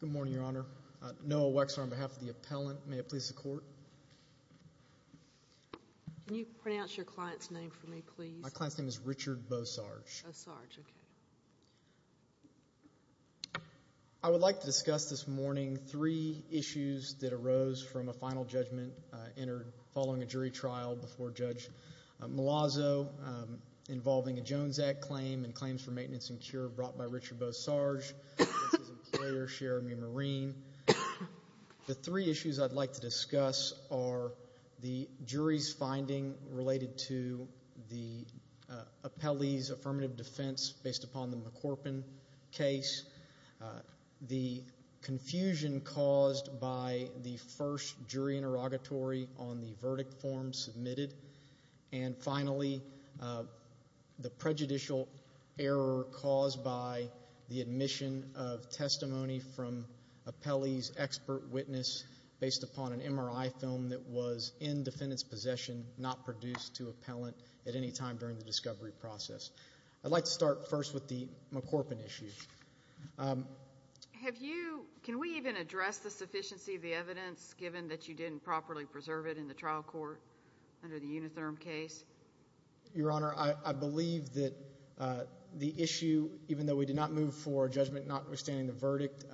Good morning, Your Honor. Noah Wexler on behalf of the appellant. May it please the Court. Can you pronounce your client's name for me, please? My client's name is Richard Bosarge. Bosarge, okay. I would like to discuss this morning three issues that arose from a final judgment following a jury trial before Judge Malazzo involving a Jones Act claim and claims for maintenance and cure brought by Richard Bosarge. This is Employer Cheramie Marine. The three issues I'd like to discuss are the jury's finding related to the appellee's affirmative defense based upon the McCorpin case, the confusion caused by the first jury interrogatory on the verdict form submitted, and finally, the prejudicial error caused by the admission of testimony from appellee's expert witness based upon an MRI film that was in defendant's possession, not produced to appellant at any time during the discovery process. I'd like to start first with the McCorpin issue. Can we even address the sufficiency of the evidence, given that you didn't properly preserve it in the trial court under the Unitherm case? Your Honor, I believe that the issue, even though we did not move for a judgment notwithstanding the verdict,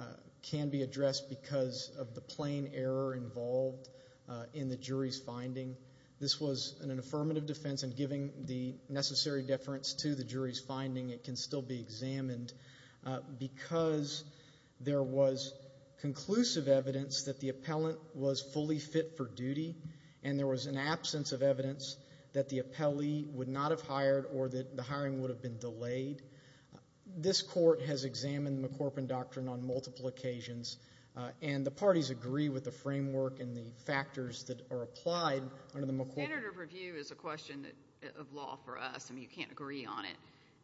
can be addressed because of the plain error involved in the jury's finding. This was an affirmative defense, and given the necessary deference to the jury's finding, it can still be examined because there was conclusive evidence that the appellant was fully fit for duty and there was an absence of evidence that the appellee would not have hired or that the hiring would have been delayed. This court has examined the McCorpin doctrine on multiple occasions, and the parties agree with the framework and the factors that are applied under the McCorpin doctrine. The standard of review is a question of law for us. I mean, you can't agree on it.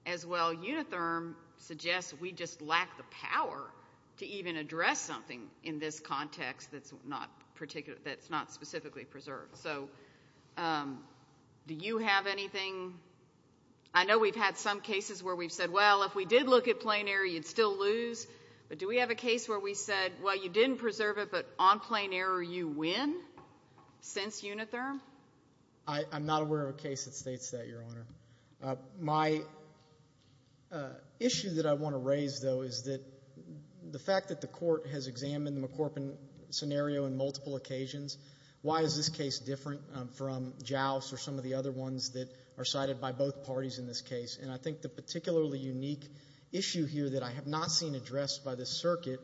As well, Unitherm suggests we just lack the power to even address something in this context that's not specifically preserved. So do you have anything? I know we've had some cases where we've said, well, if we did look at plain error, you'd still lose. But do we have a case where we said, well, you didn't preserve it, but on plain error you win since Unitherm? I'm not aware of a case that states that, Your Honor. My issue that I want to raise, though, is that the fact that the court has examined the McCorpin scenario on multiple occasions, why is this case different from Joust or some of the other ones that are cited by both parties in this case? And I think the particularly unique issue here that I have not seen addressed by this circuit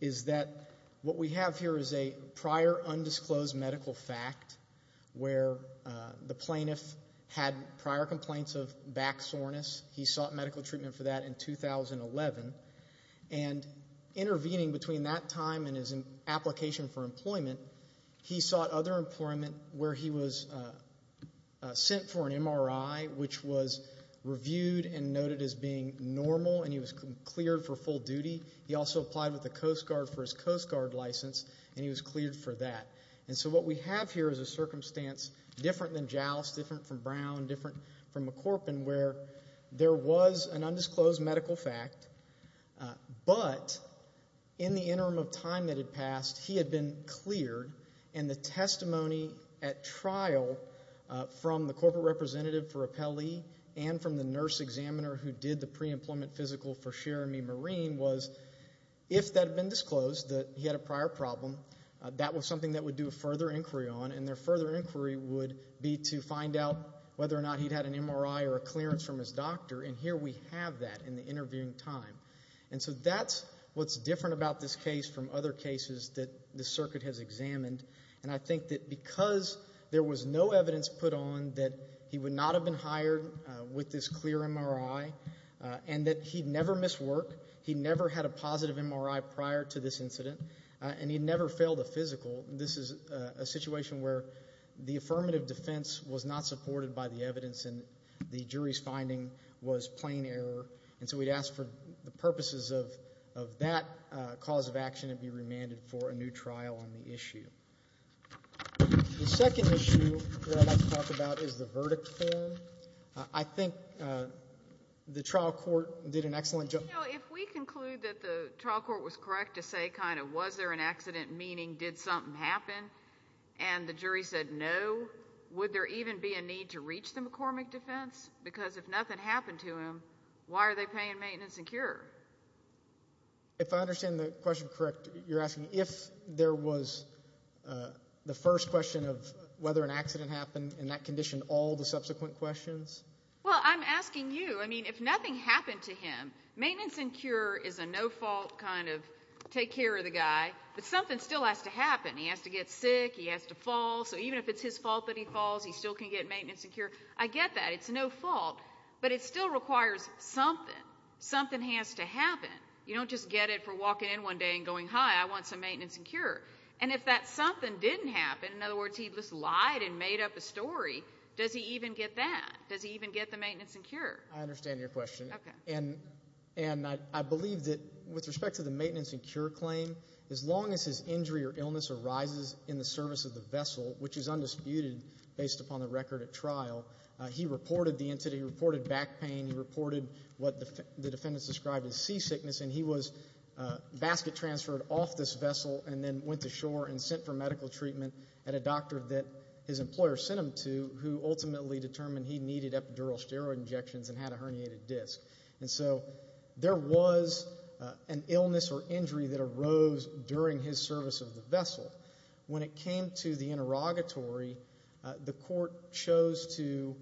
is that what we have here is a prior undisclosed medical fact where the plaintiff had prior complaints of back soreness. He sought medical treatment for that in 2011. And intervening between that time and his application for employment, he sought other employment where he was sent for an MRI, which was reviewed and noted as being normal, and he was cleared for full duty. He also applied with the Coast Guard for his Coast Guard license, and he was cleared for that. And so what we have here is a circumstance different than Joust, different from Brown, different from McCorpin, where there was an undisclosed medical fact. But in the interim of time that had passed, he had been cleared, and the testimony at trial from the corporate representative for Appellee and from the nurse examiner who did the pre-employment physical for Cherami Marine was, if that had been disclosed that he had a prior problem, that was something that would do a further inquiry on, and their further inquiry would be to find out whether or not he'd had an MRI or a clearance from his doctor. And here we have that in the interviewing time. And so that's what's different about this case from other cases that the circuit has examined. And I think that because there was no evidence put on that he would not have been hired with this clear MRI and that he'd never missed work, he'd never had a positive MRI prior to this incident, and he'd never failed a physical, this is a situation where the affirmative defense was not supported by the evidence and the jury's finding was plain error. And so we'd ask for the purposes of that cause of action to be remanded for a new trial on the issue. The second issue that I'd like to talk about is the verdict form. I think the trial court did an excellent job. You know, if we conclude that the trial court was correct to say kind of was there an accident, meaning did something happen, and the jury said no, would there even be a need to reach the McCormick defense? Because if nothing happened to him, why are they paying maintenance and cure? If I understand the question correct, you're asking if there was the first question of whether an accident happened and that conditioned all the subsequent questions? Well, I'm asking you. I mean, if nothing happened to him, maintenance and cure is a no-fault kind of take care of the guy, but something still has to happen. He has to get sick. He has to fall. So even if it's his fault that he falls, he still can get maintenance and cure. I get that. It's no fault. But it still requires something. Something has to happen. You don't just get it for walking in one day and going, hi, I want some maintenance and cure. And if that something didn't happen, in other words, he just lied and made up a story, does he even get that? Does he even get the maintenance and cure? I understand your question. Okay. And I believe that with respect to the maintenance and cure claim, as long as his injury or illness arises in the service of the vessel, which is undisputed based upon the record at trial, he reported the entity, he reported back pain, he reported what the defendants described as sea sickness, and he was basket transferred off this vessel and then went to shore and sent for medical treatment at a doctor that his employer sent him to who ultimately determined he needed epidural steroid injections and had a herniated disc. And so there was an illness or injury that arose during his service of the vessel. When it came to the interrogatory, the court chose to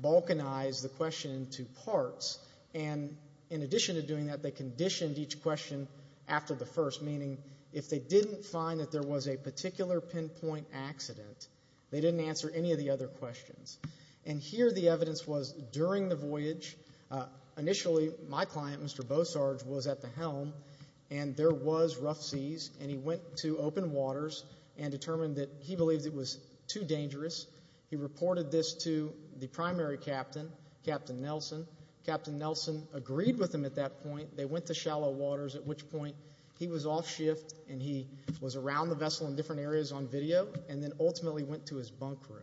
balkanize the question in two parts. And in addition to doing that, they conditioned each question after the first, meaning if they didn't find that there was a particular pinpoint accident, they didn't answer any of the other questions. And here the evidence was during the voyage, initially my client, Mr. Bosarge, was at the helm and there was rough seas and he went to open waters and determined that he believed it was too dangerous. He reported this to the primary captain, Captain Nelson. Captain Nelson agreed with him at that point. They went to shallow waters, at which point he was off shift and he was around the vessel in different areas on video and then ultimately went to his bunk room.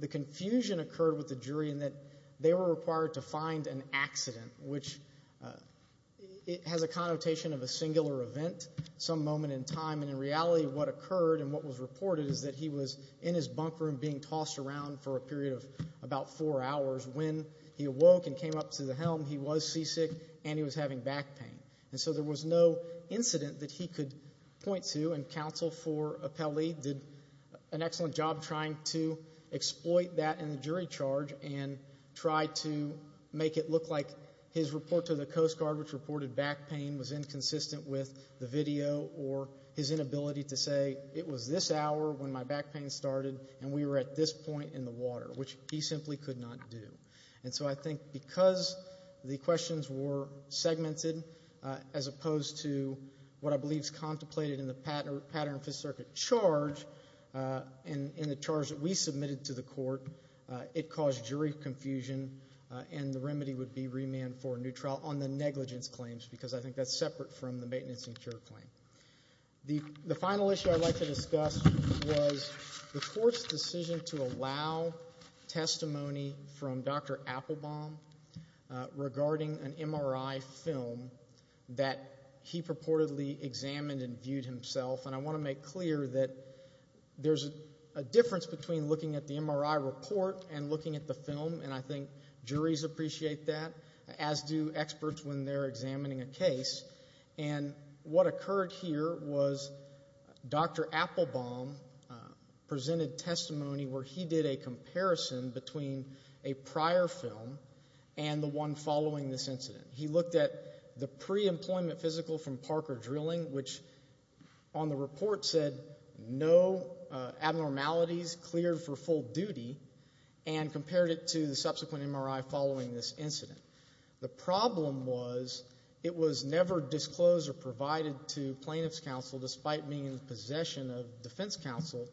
The confusion occurred with the jury in that they were required to find an accident, which has a connotation of a singular event some moment in time. And in reality, what occurred and what was reported is that he was in his bunk room being tossed around for a period of about four hours. When he awoke and came up to the helm, he was seasick and he was having back pain. And so there was no incident that he could point to, and counsel for Appelli did an excellent job trying to exploit that in the jury charge and try to make it look like his report to the Coast Guard, which reported back pain, was inconsistent with the video or his inability to say, it was this hour when my back pain started and we were at this point in the water, which he simply could not do. And so I think because the questions were segmented as opposed to what I believe is contemplated in the Pattern of Fifth Circuit charge and the charge that we submitted to the court, it caused jury confusion and the remedy would be remand for a new trial on the negligence claims because I think that's separate from the maintenance and cure claim. The final issue I'd like to discuss was the court's decision to allow testimony from Dr. Applebaum regarding an MRI film that he purportedly examined and viewed himself. And I want to make clear that there's a difference between looking at the MRI report and looking at the film, and I think juries appreciate that, as do experts when they're examining a case. And what occurred here was Dr. Applebaum presented testimony where he did a comparison between a prior film and the one following this incident. He looked at the pre-employment physical from Parker Drilling, which on the report said no abnormalities cleared for full duty and compared it to the subsequent MRI following this incident. The problem was it was never disclosed or provided to plaintiff's counsel despite being in possession of defense counsel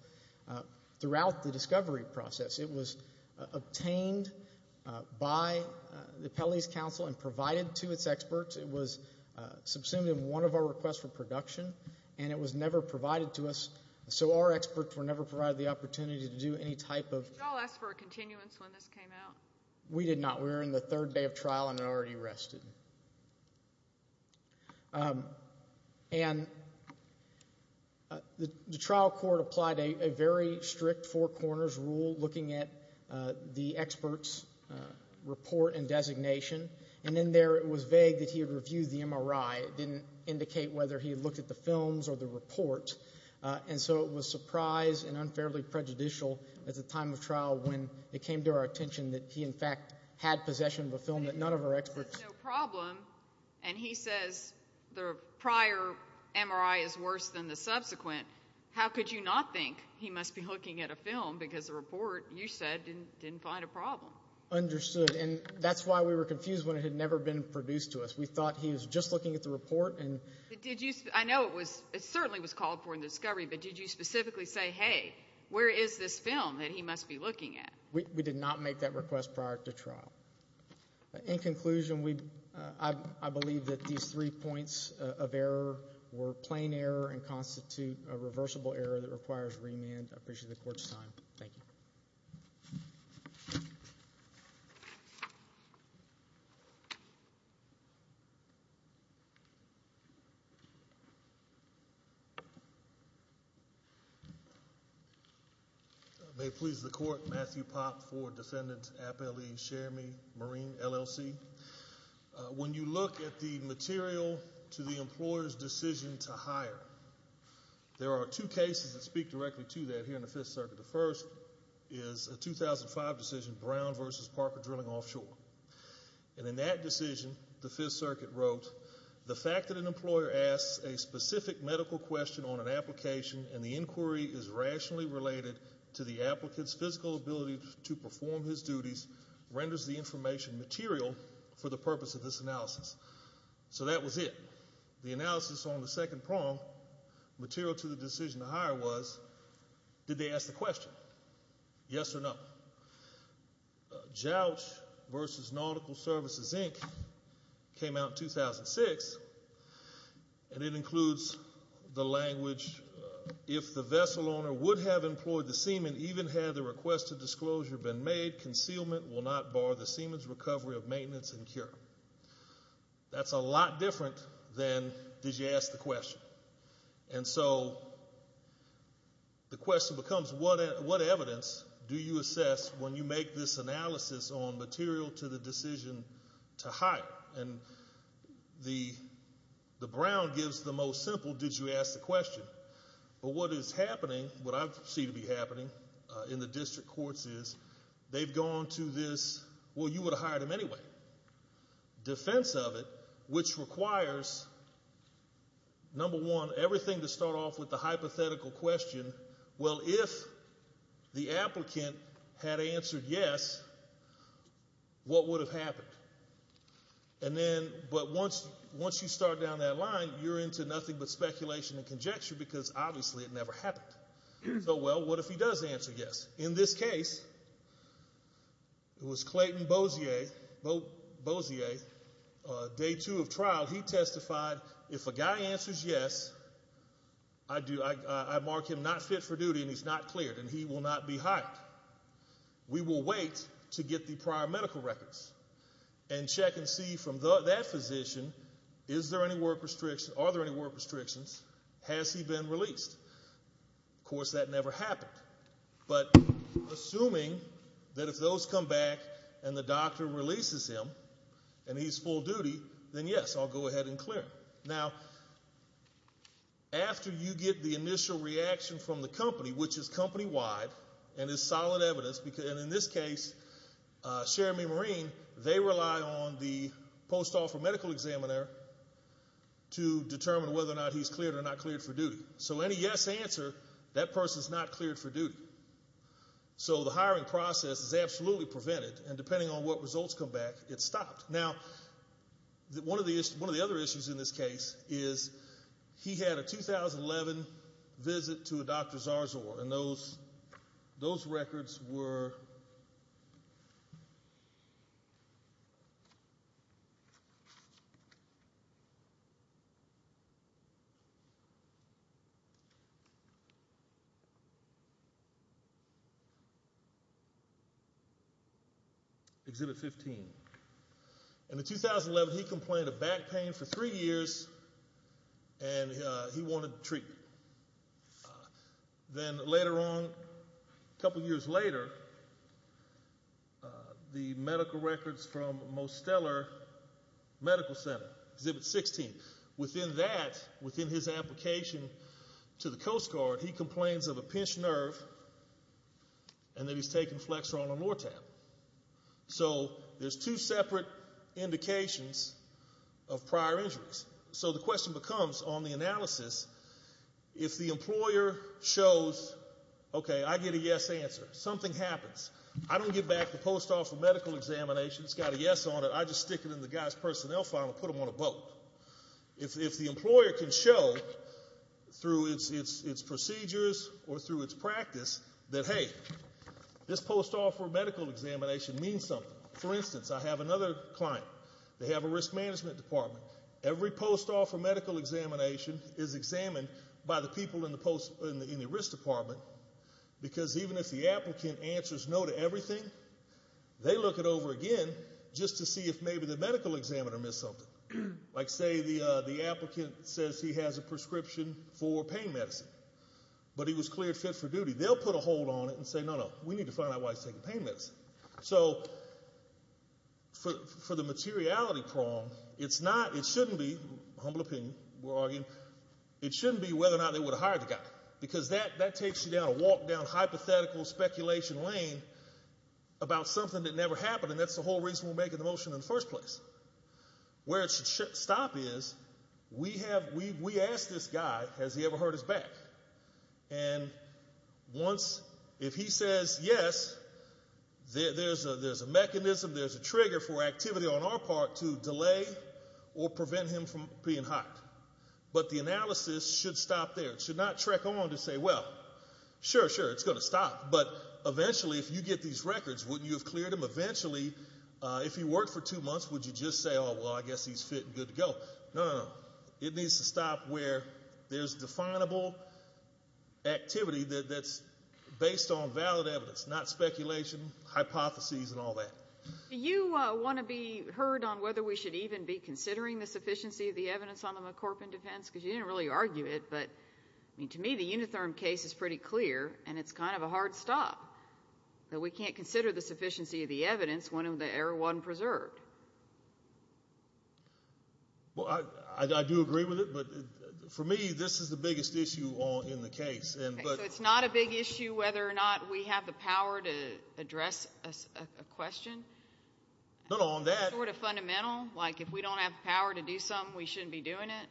throughout the discovery process. It was obtained by the Pele's counsel and provided to its experts. It was subsumed in one of our requests for production, and it was never provided to us, so our experts were never provided the opportunity to do any type of... Did you all ask for a continuance when this came out? We did not. We were in the third day of trial and had already arrested. And the trial court applied a very strict four corners rule looking at the expert's report and designation, and in there it was vague that he had reviewed the MRI. It didn't indicate whether he had looked at the films or the report, and so it was surprise and unfairly prejudicial at the time of trial when it came to our attention that he, in fact, had possession of a film that none of our experts... No problem, and he says the prior MRI is worse than the subsequent. How could you not think he must be looking at a film because the report, you said, didn't find a problem? Understood, and that's why we were confused when it had never been produced to us. We thought he was just looking at the report and... I know it certainly was called for in the discovery, but did you specifically say, hey, where is this film that he must be looking at? We did not make that request prior to trial. In conclusion, I believe that these three points of error were plain error and constitute a reversible error that requires remand. I appreciate the court's time. Thank you. May it please the court. Matthew Popp for Defendant Appellee Shermie Marine, LLC. When you look at the material to the employer's decision to hire, there are two cases that speak directly to that here in the Fifth Circuit. The first is a 2005 decision, Brown v. Parker Drilling Offshore, and in that decision, the Fifth Circuit wrote, the fact that an employer asks a specific medical question on an application and the inquiry is rationally related to the applicant's physical ability to perform his duties renders the information material for the purpose of this analysis. So that was it. The analysis on the second prong, material to the decision to hire was, did they ask the question? Yes or no? JOUCH v. Nautical Services, Inc. came out in 2006, and it includes the language, if the vessel owner would have employed the seaman, even had the request of disclosure been made, concealment will not bar the seaman's recovery of maintenance and cure. That's a lot different than did you ask the question. And so the question becomes, what evidence do you assess when you make this analysis on material to the decision to hire? And the Brown gives the most simple, did you ask the question? But what is happening, what I see to be happening in the district courts is, they've gone to this, well, you would have hired him anyway. Defense of it, which requires, number one, everything to start off with the hypothetical question, well, if the applicant had answered yes, what would have happened? And then, but once you start down that line, you're into nothing but speculation and conjecture because obviously it never happened. So, well, what if he does answer yes? In this case, it was Clayton Bozier, day two of trial. He testified, if a guy answers yes, I mark him not fit for duty and he's not cleared and he will not be hired. We will wait to get the prior medical records and check and see from that physician, is there any work restrictions, are there any work restrictions, has he been released? Of course, that never happened. But assuming that if those come back and the doctor releases him and he's full duty, then yes, I'll go ahead and clear him. Now, after you get the initial reaction from the company, which is company-wide and is solid evidence, and in this case, Cherami Marine, they rely on the post-office medical examiner to determine whether or not he's cleared or not cleared for duty. So any yes answer, that person's not cleared for duty. So the hiring process is absolutely prevented and depending on what results come back, it's stopped. Now, one of the other issues in this case is he had a 2011 visit to a Dr. Zarzor and those records were Exhibit 15. In 2011, he complained of back pain for three years and he wanted treatment. Then later on, a couple years later, the medical records from Mosteller Medical Center, Exhibit 16, within that, within his application to the Coast Guard, he complains of a pinched nerve and that he's taken Flexerol and Lortab. So there's two separate indications of prior injuries. So the question becomes, on the analysis, if the employer shows, okay, I get a yes answer. Something happens. I don't give back the post-office medical examination. It's got a yes on it. I just stick it in the guy's personnel file and put him on a boat. If the employer can show through its procedures or through its practice that, hey, this post-office medical examination means something. For instance, I have another client. They have a risk management department. Every post-office medical examination is examined by the people in the risk department because even if the applicant answers no to everything, they look it over again just to see if maybe the medical examiner missed something. Like say the applicant says he has a prescription for pain medicine, but he was cleared fit for duty. They'll put a hold on it and say, no, no, we need to find out why he's taking pain medicine. So for the materiality prong, it's not, it shouldn't be, humble opinion, we're arguing, it shouldn't be whether or not they would have hired the guy because that takes you down a walk down hypothetical speculation lane about something that never happened, and that's the whole reason we're making the motion in the first place. Where it should stop is we have, we asked this guy, has he ever hurt his back? And once, if he says yes, there's a mechanism, there's a trigger for activity on our part to delay or prevent him from being hired. But the analysis should stop there. It should not track on to say, well, sure, sure, it's going to stop, but eventually if you get these records, wouldn't you have cleared him? Eventually, if he worked for two months, would you just say, oh, well, I guess he's fit and good to go? No, no, no. It needs to stop where there's definable activity that's based on valid evidence, not speculation, hypotheses, and all that. Do you want to be heard on whether we should even be considering the sufficiency of the evidence on the McCorpin defense? Because you didn't really argue it, but to me the Unitherm case is pretty clear, and it's kind of a hard stop, that we can't consider the sufficiency of the evidence when the error wasn't preserved. Well, I do agree with it, but for me this is the biggest issue in the case. So it's not a big issue whether or not we have the power to address a question? No, no, on that. Sort of fundamental, like if we don't have the power to do something, we shouldn't be doing it?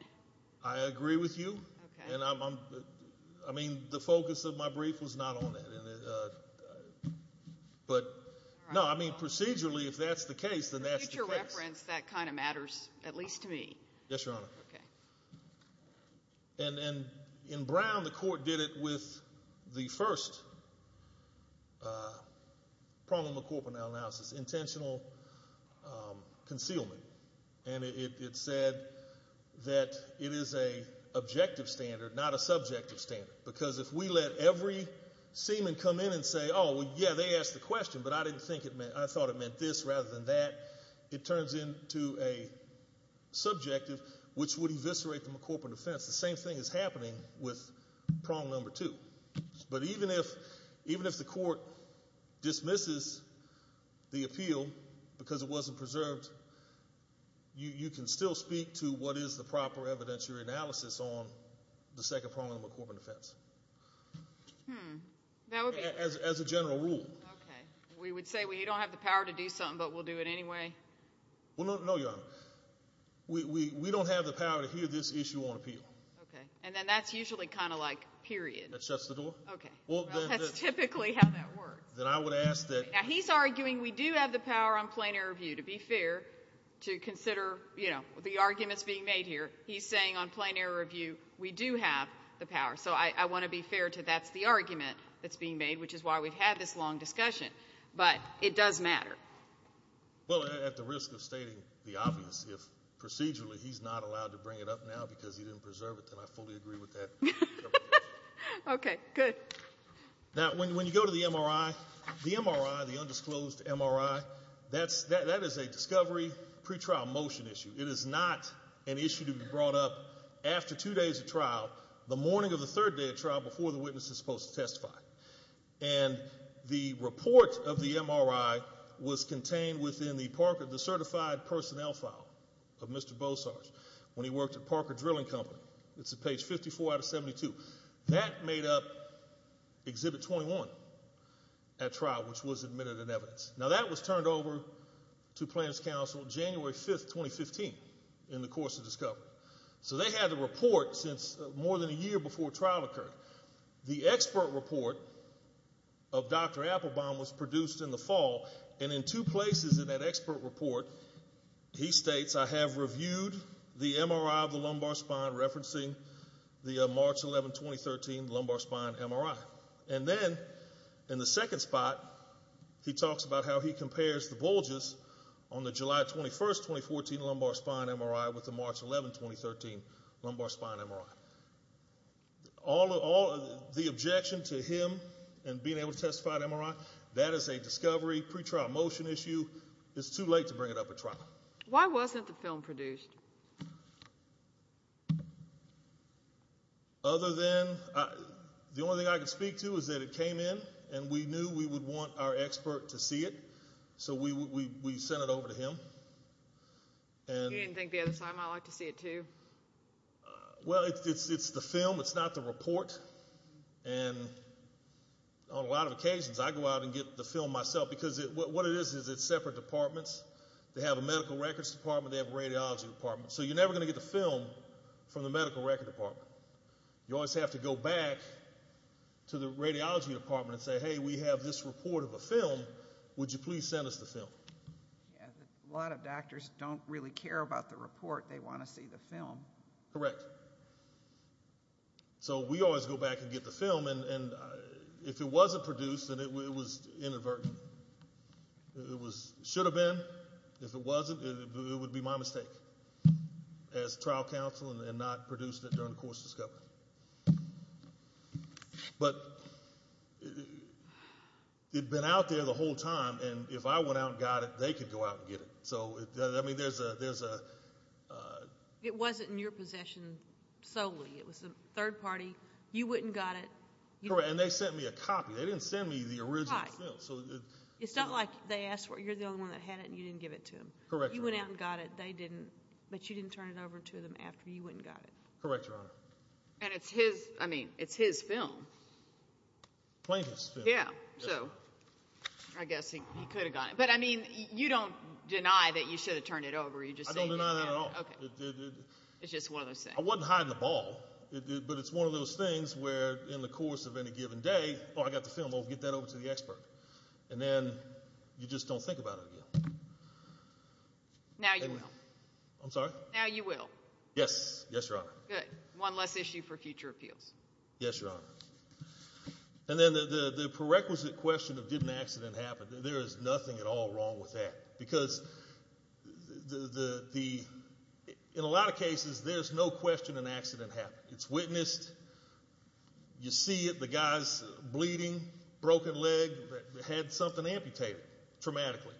I agree with you. I mean, the focus of my brief was not on that. But, no, I mean, procedurally, if that's the case, then that's the case. For future reference, that kind of matters, at least to me. Yes, Your Honor. Okay. And in Brown, the court did it with the first problem of corporeal analysis, intentional concealment. And it said that it is an objective standard, not a subjective standard, because if we let every seaman come in and say, oh, yeah, they asked the question, but I thought it meant this rather than that, it turns into a subjective, which would eviscerate the McCorporate offense. The same thing is happening with prong number two. But even if the court dismisses the appeal because it wasn't preserved, you can still speak to what is the proper evidentiary analysis on the second prong of the McCorporate offense as a general rule. Okay. We would say, well, you don't have the power to do something, but we'll do it anyway? Well, no, Your Honor. We don't have the power to hear this issue on appeal. Okay. And then that's usually kind of like period. That shuts the door. Okay. Well, that's typically how that works. Then I would ask that. Now, he's arguing we do have the power on plain error review, to be fair, to consider, you know, the arguments being made here. He's saying on plain error review we do have the power. So I want to be fair to that's the argument that's being made, which is why we've had this long discussion. But it does matter. Well, at the risk of stating the obvious, if procedurally he's not allowed to bring it up now because he didn't preserve it, then I fully agree with that. Okay. Good. Now, when you go to the MRI, the MRI, the undisclosed MRI, that is a discovery pretrial motion issue. It is not an issue to be brought up after two days of trial, the morning of the third day of trial before the witness is supposed to testify. And the report of the MRI was contained within the Parker, the certified personnel file of Mr. Bosarge when he worked at Parker Drilling Company. It's at page 54 out of 72. That made up Exhibit 21 at trial, which was admitted in evidence. Now, that was turned over to Planner's Council January 5, 2015, in the course of discovery. So they had the report since more than a year before trial occurred. The expert report of Dr. Applebaum was produced in the fall. And in two places in that expert report, he states, I have reviewed the MRI of the lumbar spine referencing the March 11, 2013, lumbar spine MRI. And then in the second spot, he talks about how he compares the bulges on the July 21, 2014, lumbar spine MRI with the March 11, 2013, lumbar spine MRI. All of the objection to him and being able to testify at MRI, that is a discovery pretrial motion issue. It's too late to bring it up at trial. Why wasn't the film produced? Other than the only thing I can speak to is that it came in and we knew we would want our expert to see it. So we sent it over to him. You didn't think the other time I'd like to see it too? Well, it's the film. It's not the report. And on a lot of occasions I go out and get the film myself because what it is is it's separate departments. They have a medical records department. They have a radiology department. So you're never going to get the film from the medical records department. You always have to go back to the radiology department and say, hey, we have this report of a film. Would you please send us the film? A lot of doctors don't really care about the report. They want to see the film. Correct. So we always go back and get the film. And if it wasn't produced, then it was inadvertently. It should have been. If it wasn't, it would be my mistake as trial counsel and not producing it during the course of discovery. But it had been out there the whole time, and if I went out and got it, they could go out and get it. I mean, there's a ---- It wasn't in your possession solely. It was a third party. You went and got it. Correct. And they sent me a copy. They didn't send me the original film. It's not like you're the only one that had it and you didn't give it to them. Correct, Your Honor. You went out and got it. But you didn't turn it over to them after you went and got it. Correct, Your Honor. And it's his film. Plaintiff's film. Yeah. So I guess he could have gotten it. But, I mean, you don't deny that you should have turned it over. I don't deny that at all. It's just one of those things. I wasn't hiding the ball, but it's one of those things where in the course of any given day, oh, I got the film. I'll get that over to the expert. And then you just don't think about it again. Now you will. I'm sorry? Now you will. Yes. Yes, Your Honor. Good. One less issue for future appeals. Yes, Your Honor. And then the prerequisite question of did an accident happen, there is nothing at all wrong with that. Because in a lot of cases there's no question an accident happened. It's witnessed. You see it. The guy's bleeding, broken leg, had something amputated traumatically.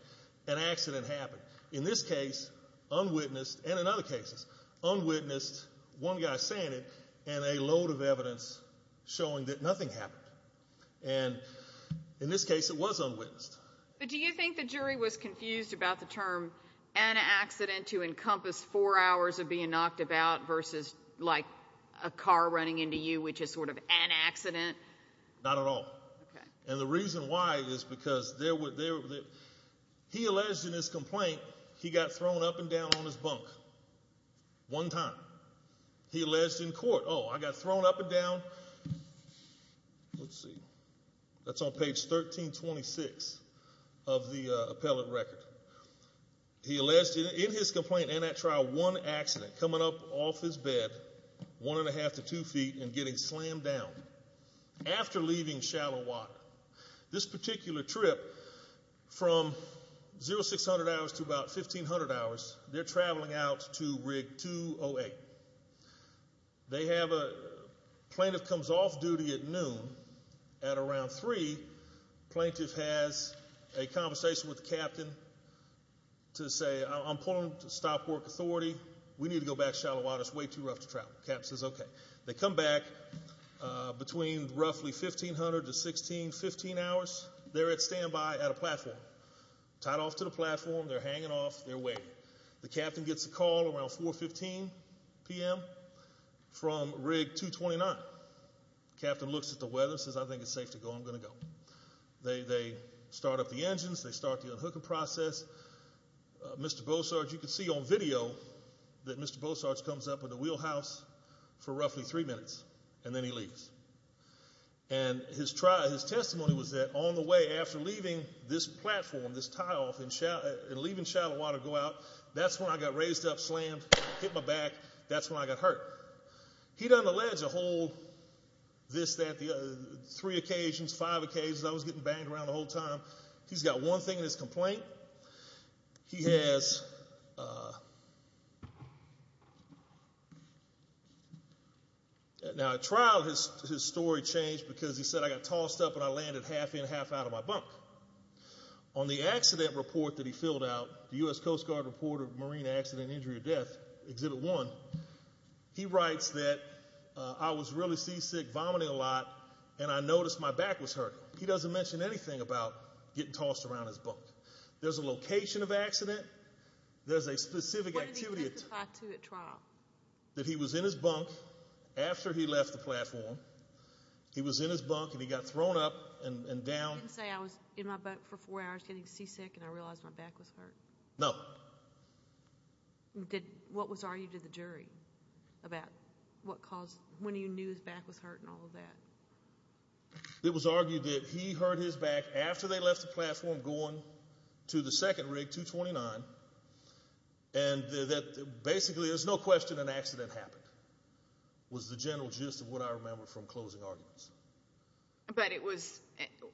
An accident happened. In this case, unwitnessed, and in other cases, unwitnessed, one guy saying it, and a load of evidence showing that nothing happened. And in this case it was unwitnessed. But do you think the jury was confused about the term an accident to encompass four hours of being knocked about versus like a car running into you, which is sort of an accident? Not at all. Okay. And the reason why is because he alleged in his complaint he got thrown up and down on his bunk one time. He alleged in court, oh, I got thrown up and down. Let's see. That's on page 1326 of the appellate record. He alleged in his complaint and at trial one accident, coming up off his bed one and a half to two feet and getting slammed down after leaving shallow water. This particular trip from 0600 hours to about 1500 hours, they're traveling out to rig 208. They have a plaintiff comes off duty at noon. At around three, plaintiff has a conversation with the captain to say, I'm pulling to stop work authority. We need to go back to shallow water. It's way too rough to travel. The captain says okay. They come back between roughly 1500 to 1615 hours. They're at standby at a platform. Tied off to the platform. They're hanging off. They're waiting. The captain gets a call around 4.15 p.m. from rig 229. Captain looks at the weather and says, I think it's safe to go. I'm going to go. They start up the engines. They start the unhooking process. Mr. Bossard, you can see on video that Mr. Bossard comes up with a wheelhouse for roughly three minutes and then he leaves. And his testimony was that on the way after leaving this platform, this tie off and leaving shallow water to go out, that's when I got raised up, slammed, hit my back. That's when I got hurt. He doesn't allege a whole this, that, three occasions, five occasions. I was getting banged around the whole time. He's got one thing in his complaint. He has a trial. His story changed because he said I got tossed up and I landed half in, half out of my bunk. On the accident report that he filled out, the U.S. Coast Guard reported marine accident injury or death, exhibit one, he writes that I was really seasick, vomiting a lot, and I noticed my back was hurting. He doesn't mention anything about getting tossed around his bunk. There's a location of accident. There's a specific activity. What did he testify to at trial? That he was in his bunk after he left the platform. He was in his bunk and he got thrown up and down. He didn't say I was in my bunk for four hours getting seasick and I realized my back was hurt? No. What was argued to the jury about what caused, when you knew his back was hurt and all of that? It was argued that he hurt his back after they left the platform going to the second rig, 229, and that basically there's no question an accident happened was the general gist of what I remember from closing arguments. But it was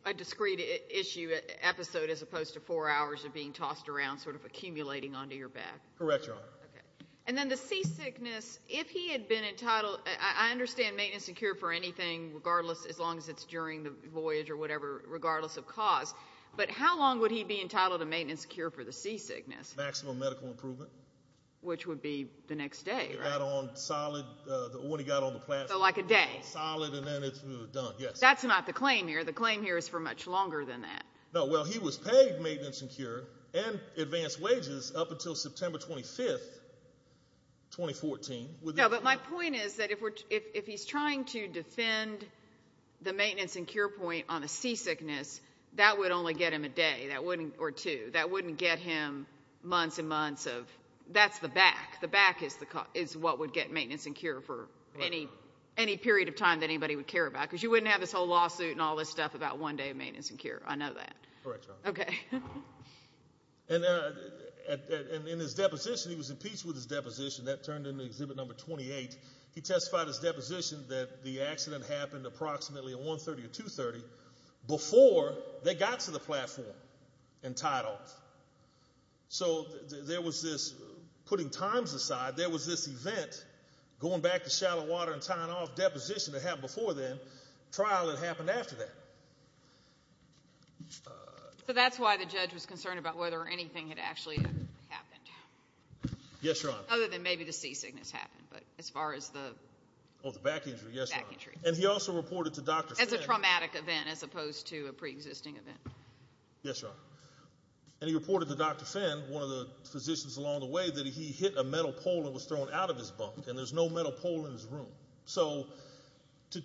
a discrete issue, episode, as opposed to four hours of being tossed around, sort of accumulating onto your back? Correct, Your Honor. Okay. And then the seasickness, if he had been entitled, I understand maintenance and cure for anything regardless, as long as it's during the voyage or whatever, regardless of cause, but how long would he be entitled to maintenance and cure for the seasickness? Maximum medical improvement. Which would be the next day, right? When he got on the platform. So like a day? A solid and then it's done, yes. That's not the claim here. The claim here is for much longer than that. No, well, he was paid maintenance and cure and advanced wages up until September 25, 2014. No, but my point is that if he's trying to defend the maintenance and cure point on a seasickness, that would only get him a day or two. That wouldn't get him months and months of, that's the back. The back is what would get maintenance and cure for any period of time that anybody would care about because you wouldn't have this whole lawsuit and all this stuff about one day of maintenance and cure. I know that. Correct, Your Honor. Okay. And in his deposition, he was impeached with his deposition. That turned into Exhibit Number 28. He testified his deposition that the accident happened approximately at 1.30 or 2.30 before they got to the platform entitled. So there was this, putting times aside, there was this event going back to shallow water and tying off deposition that happened before then, trial that happened after that. So that's why the judge was concerned about whether anything had actually happened. Yes, Your Honor. Other than maybe the seasickness happened, but as far as the back injury. Yes, Your Honor. And he also reported to Dr. Fink. As a traumatic event as opposed to a preexisting event. Yes, Your Honor. And he reported to Dr. Fink, one of the physicians along the way, that he hit a metal pole and was thrown out of his bunk, and there's no metal pole in his room. So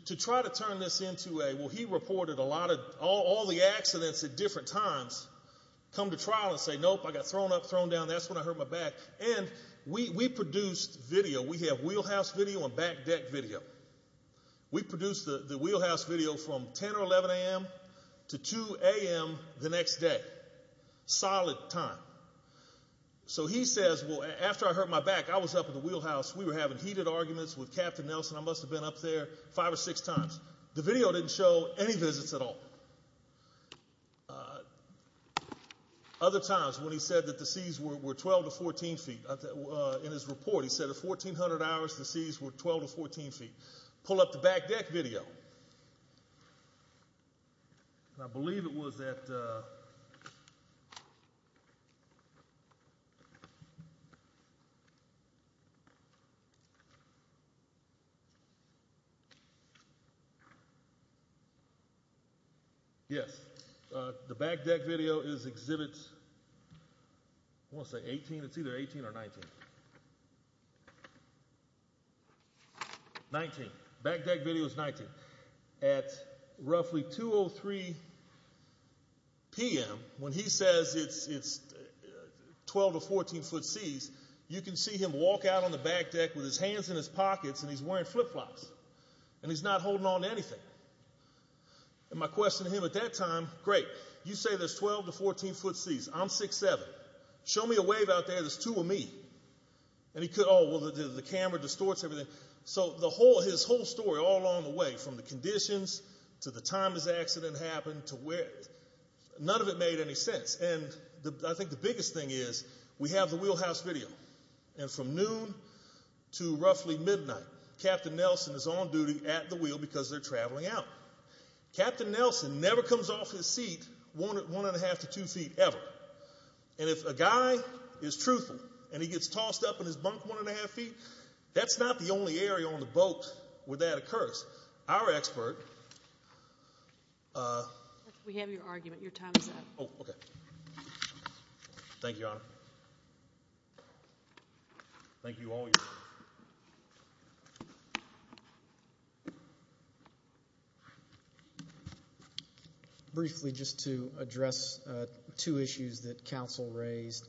to try to turn this into a, well, he reported a lot of, all the accidents at different times come to trial and say, nope, I got thrown up, thrown down, that's when I hurt my back. And we produced video. We have wheelhouse video and back deck video. We produced the wheelhouse video from 10 or 11 a.m. to 2 a.m. the next day. Solid time. So he says, well, after I hurt my back, I was up at the wheelhouse, we were having heated arguments with Captain Nelson, I must have been up there five or six times. The video didn't show any visits at all. Other times when he said that the seas were 12 to 14 feet, in his report, he said at 1,400 hours the seas were 12 to 14 feet. Pull up the back deck video. And I believe it was at, yes, the back deck video is exhibit, I want to say 18, it's either 18 or 19. 19. Back deck video is 19. At roughly 2.03 p.m. when he says it's 12 to 14 foot seas, you can see him walk out on the back deck with his hands in his pockets and he's wearing flip flops. And he's not holding on to anything. And my question to him at that time, great, you say there's 12 to 14 foot seas, I'm 6'7". Show me a wave out there that's two of me. And he could, oh, well, the camera distorts everything. So his whole story all along the way from the conditions to the time his accident happened to where, none of it made any sense. And I think the biggest thing is we have the wheelhouse video. And from noon to roughly midnight, Captain Nelson is on duty at the wheel because they're traveling out. Captain Nelson never comes off his seat 1 1⁄2 to 2 feet ever. And if a guy is truthful and he gets tossed up in his bunk 1 1⁄2 feet, that's not the only area on the boat where that occurs. Our expert. We have your argument. Your time is up. Oh, okay. Thank you, Your Honor. Thank you all. Thank you. Briefly, just to address two issues that counsel raised,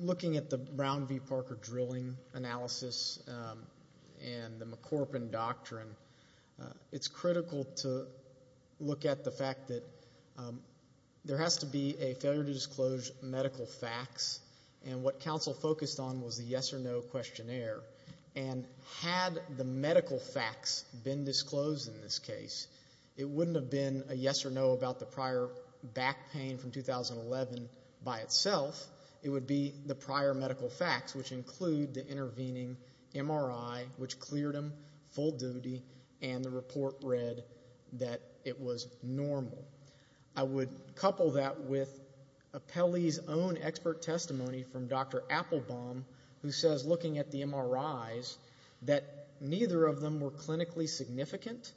looking at the Brown v. Parker drilling analysis and the McCorpin Doctrine, it's critical to look at the fact that there has to be a failure to disclose medical facts. And what counsel focused on was the yes or no questionnaire. And had the medical facts been disclosed in this case, it wouldn't have been a yes or no about the prior back pain from 2011 by itself. It would be the prior medical facts, which include the intervening MRI, which cleared him full duty, and the report read that it was normal. I would couple that with Apelli's own expert testimony from Dr. Applebaum, who says, looking at the MRIs, that neither of them were clinically significant.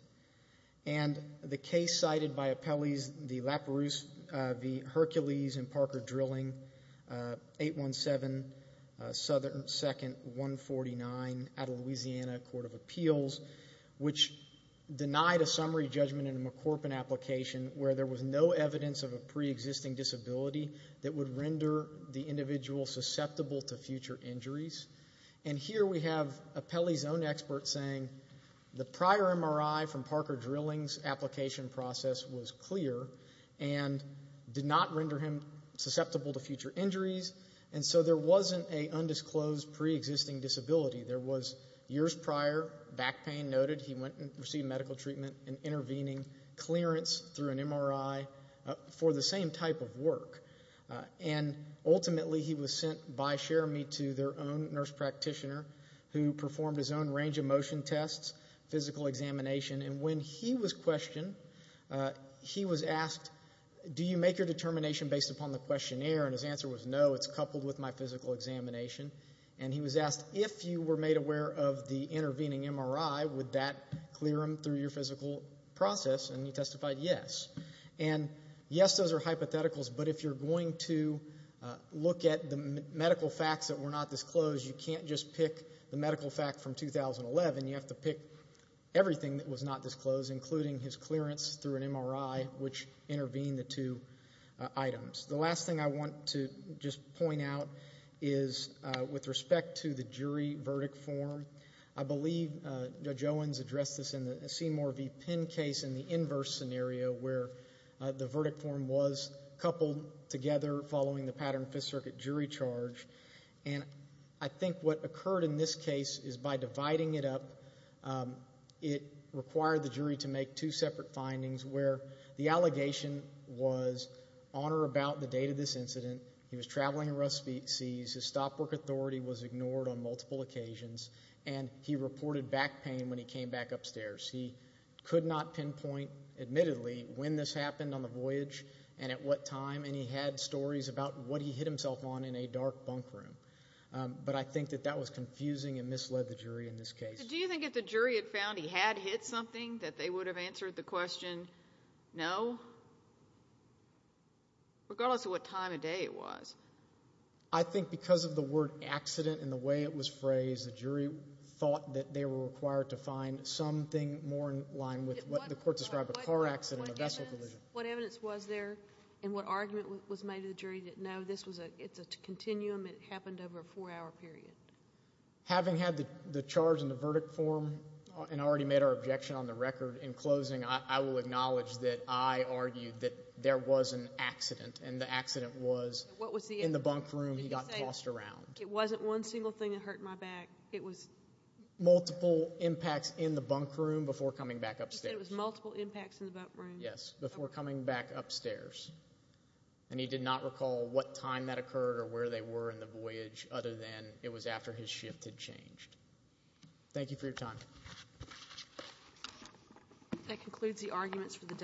And the case cited by Apelli's, the LaPerouse v. Hercules and Parker drilling, 817 Southern 2nd, 149, out of Louisiana Court of Appeals, which denied a summary judgment in a McCorpin application where there was no evidence of a preexisting disability that would render the individual susceptible to future injuries. And here we have Apelli's own expert saying, the prior MRI from Parker drilling's application process was clear and did not render him susceptible to future injuries, and so there wasn't an undisclosed preexisting disability. There was years prior, back pain noted, he went and received medical treatment and intervening clearance through an MRI for the same type of work. And ultimately he was sent by Cherami to their own nurse practitioner who performed his own range of motion tests, physical examination, and when he was questioned, he was asked, do you make your determination based upon the questionnaire? And his answer was, no, it's coupled with my physical examination. And he was asked, if you were made aware of the intervening MRI, would that clear him through your physical process? And he testified yes. And yes, those are hypotheticals, but if you're going to look at the medical facts that were not disclosed, you can't just pick the medical fact from 2011. You have to pick everything that was not disclosed, including his clearance through an MRI which intervened the two items. The last thing I want to just point out is with respect to the jury verdict form, I believe Judge Owens addressed this in the Seymour v. Penn case in the inverse scenario where the verdict form was coupled together following the Pattern Fifth Circuit jury charge. And I think what occurred in this case is by dividing it up, it required the jury to make two separate findings where the allegation was on or about the date of this incident, he was traveling in rough seas, his stop work authority was ignored on multiple occasions, and he reported back pain when he came back upstairs. He could not pinpoint, admittedly, when this happened on the voyage and at what time, and he had stories about what he hit himself on in a dark bunk room. But I think that that was confusing and misled the jury in this case. So do you think if the jury had found he had hit something that they would have answered the question no, regardless of what time of day it was? I think because of the word accident and the way it was phrased, the jury thought that they were required to find something more in line with what the court described, a car accident, a vessel collision. What evidence was there and what argument was made that the jury didn't know? It's a continuum. It happened over a four-hour period. Having had the charge in the verdict form and already made our objection on the record in closing, I will acknowledge that I argued that there was an accident and the accident was in the bunk room he got tossed around. It wasn't one single thing that hurt my back. It was multiple impacts in the bunk room before coming back upstairs. You said it was multiple impacts in the bunk room. Yes, before coming back upstairs. And he did not recall what time that occurred or where they were in the voyage other than it was after his shift had changed. Thank you for your time. That concludes the arguments for the day.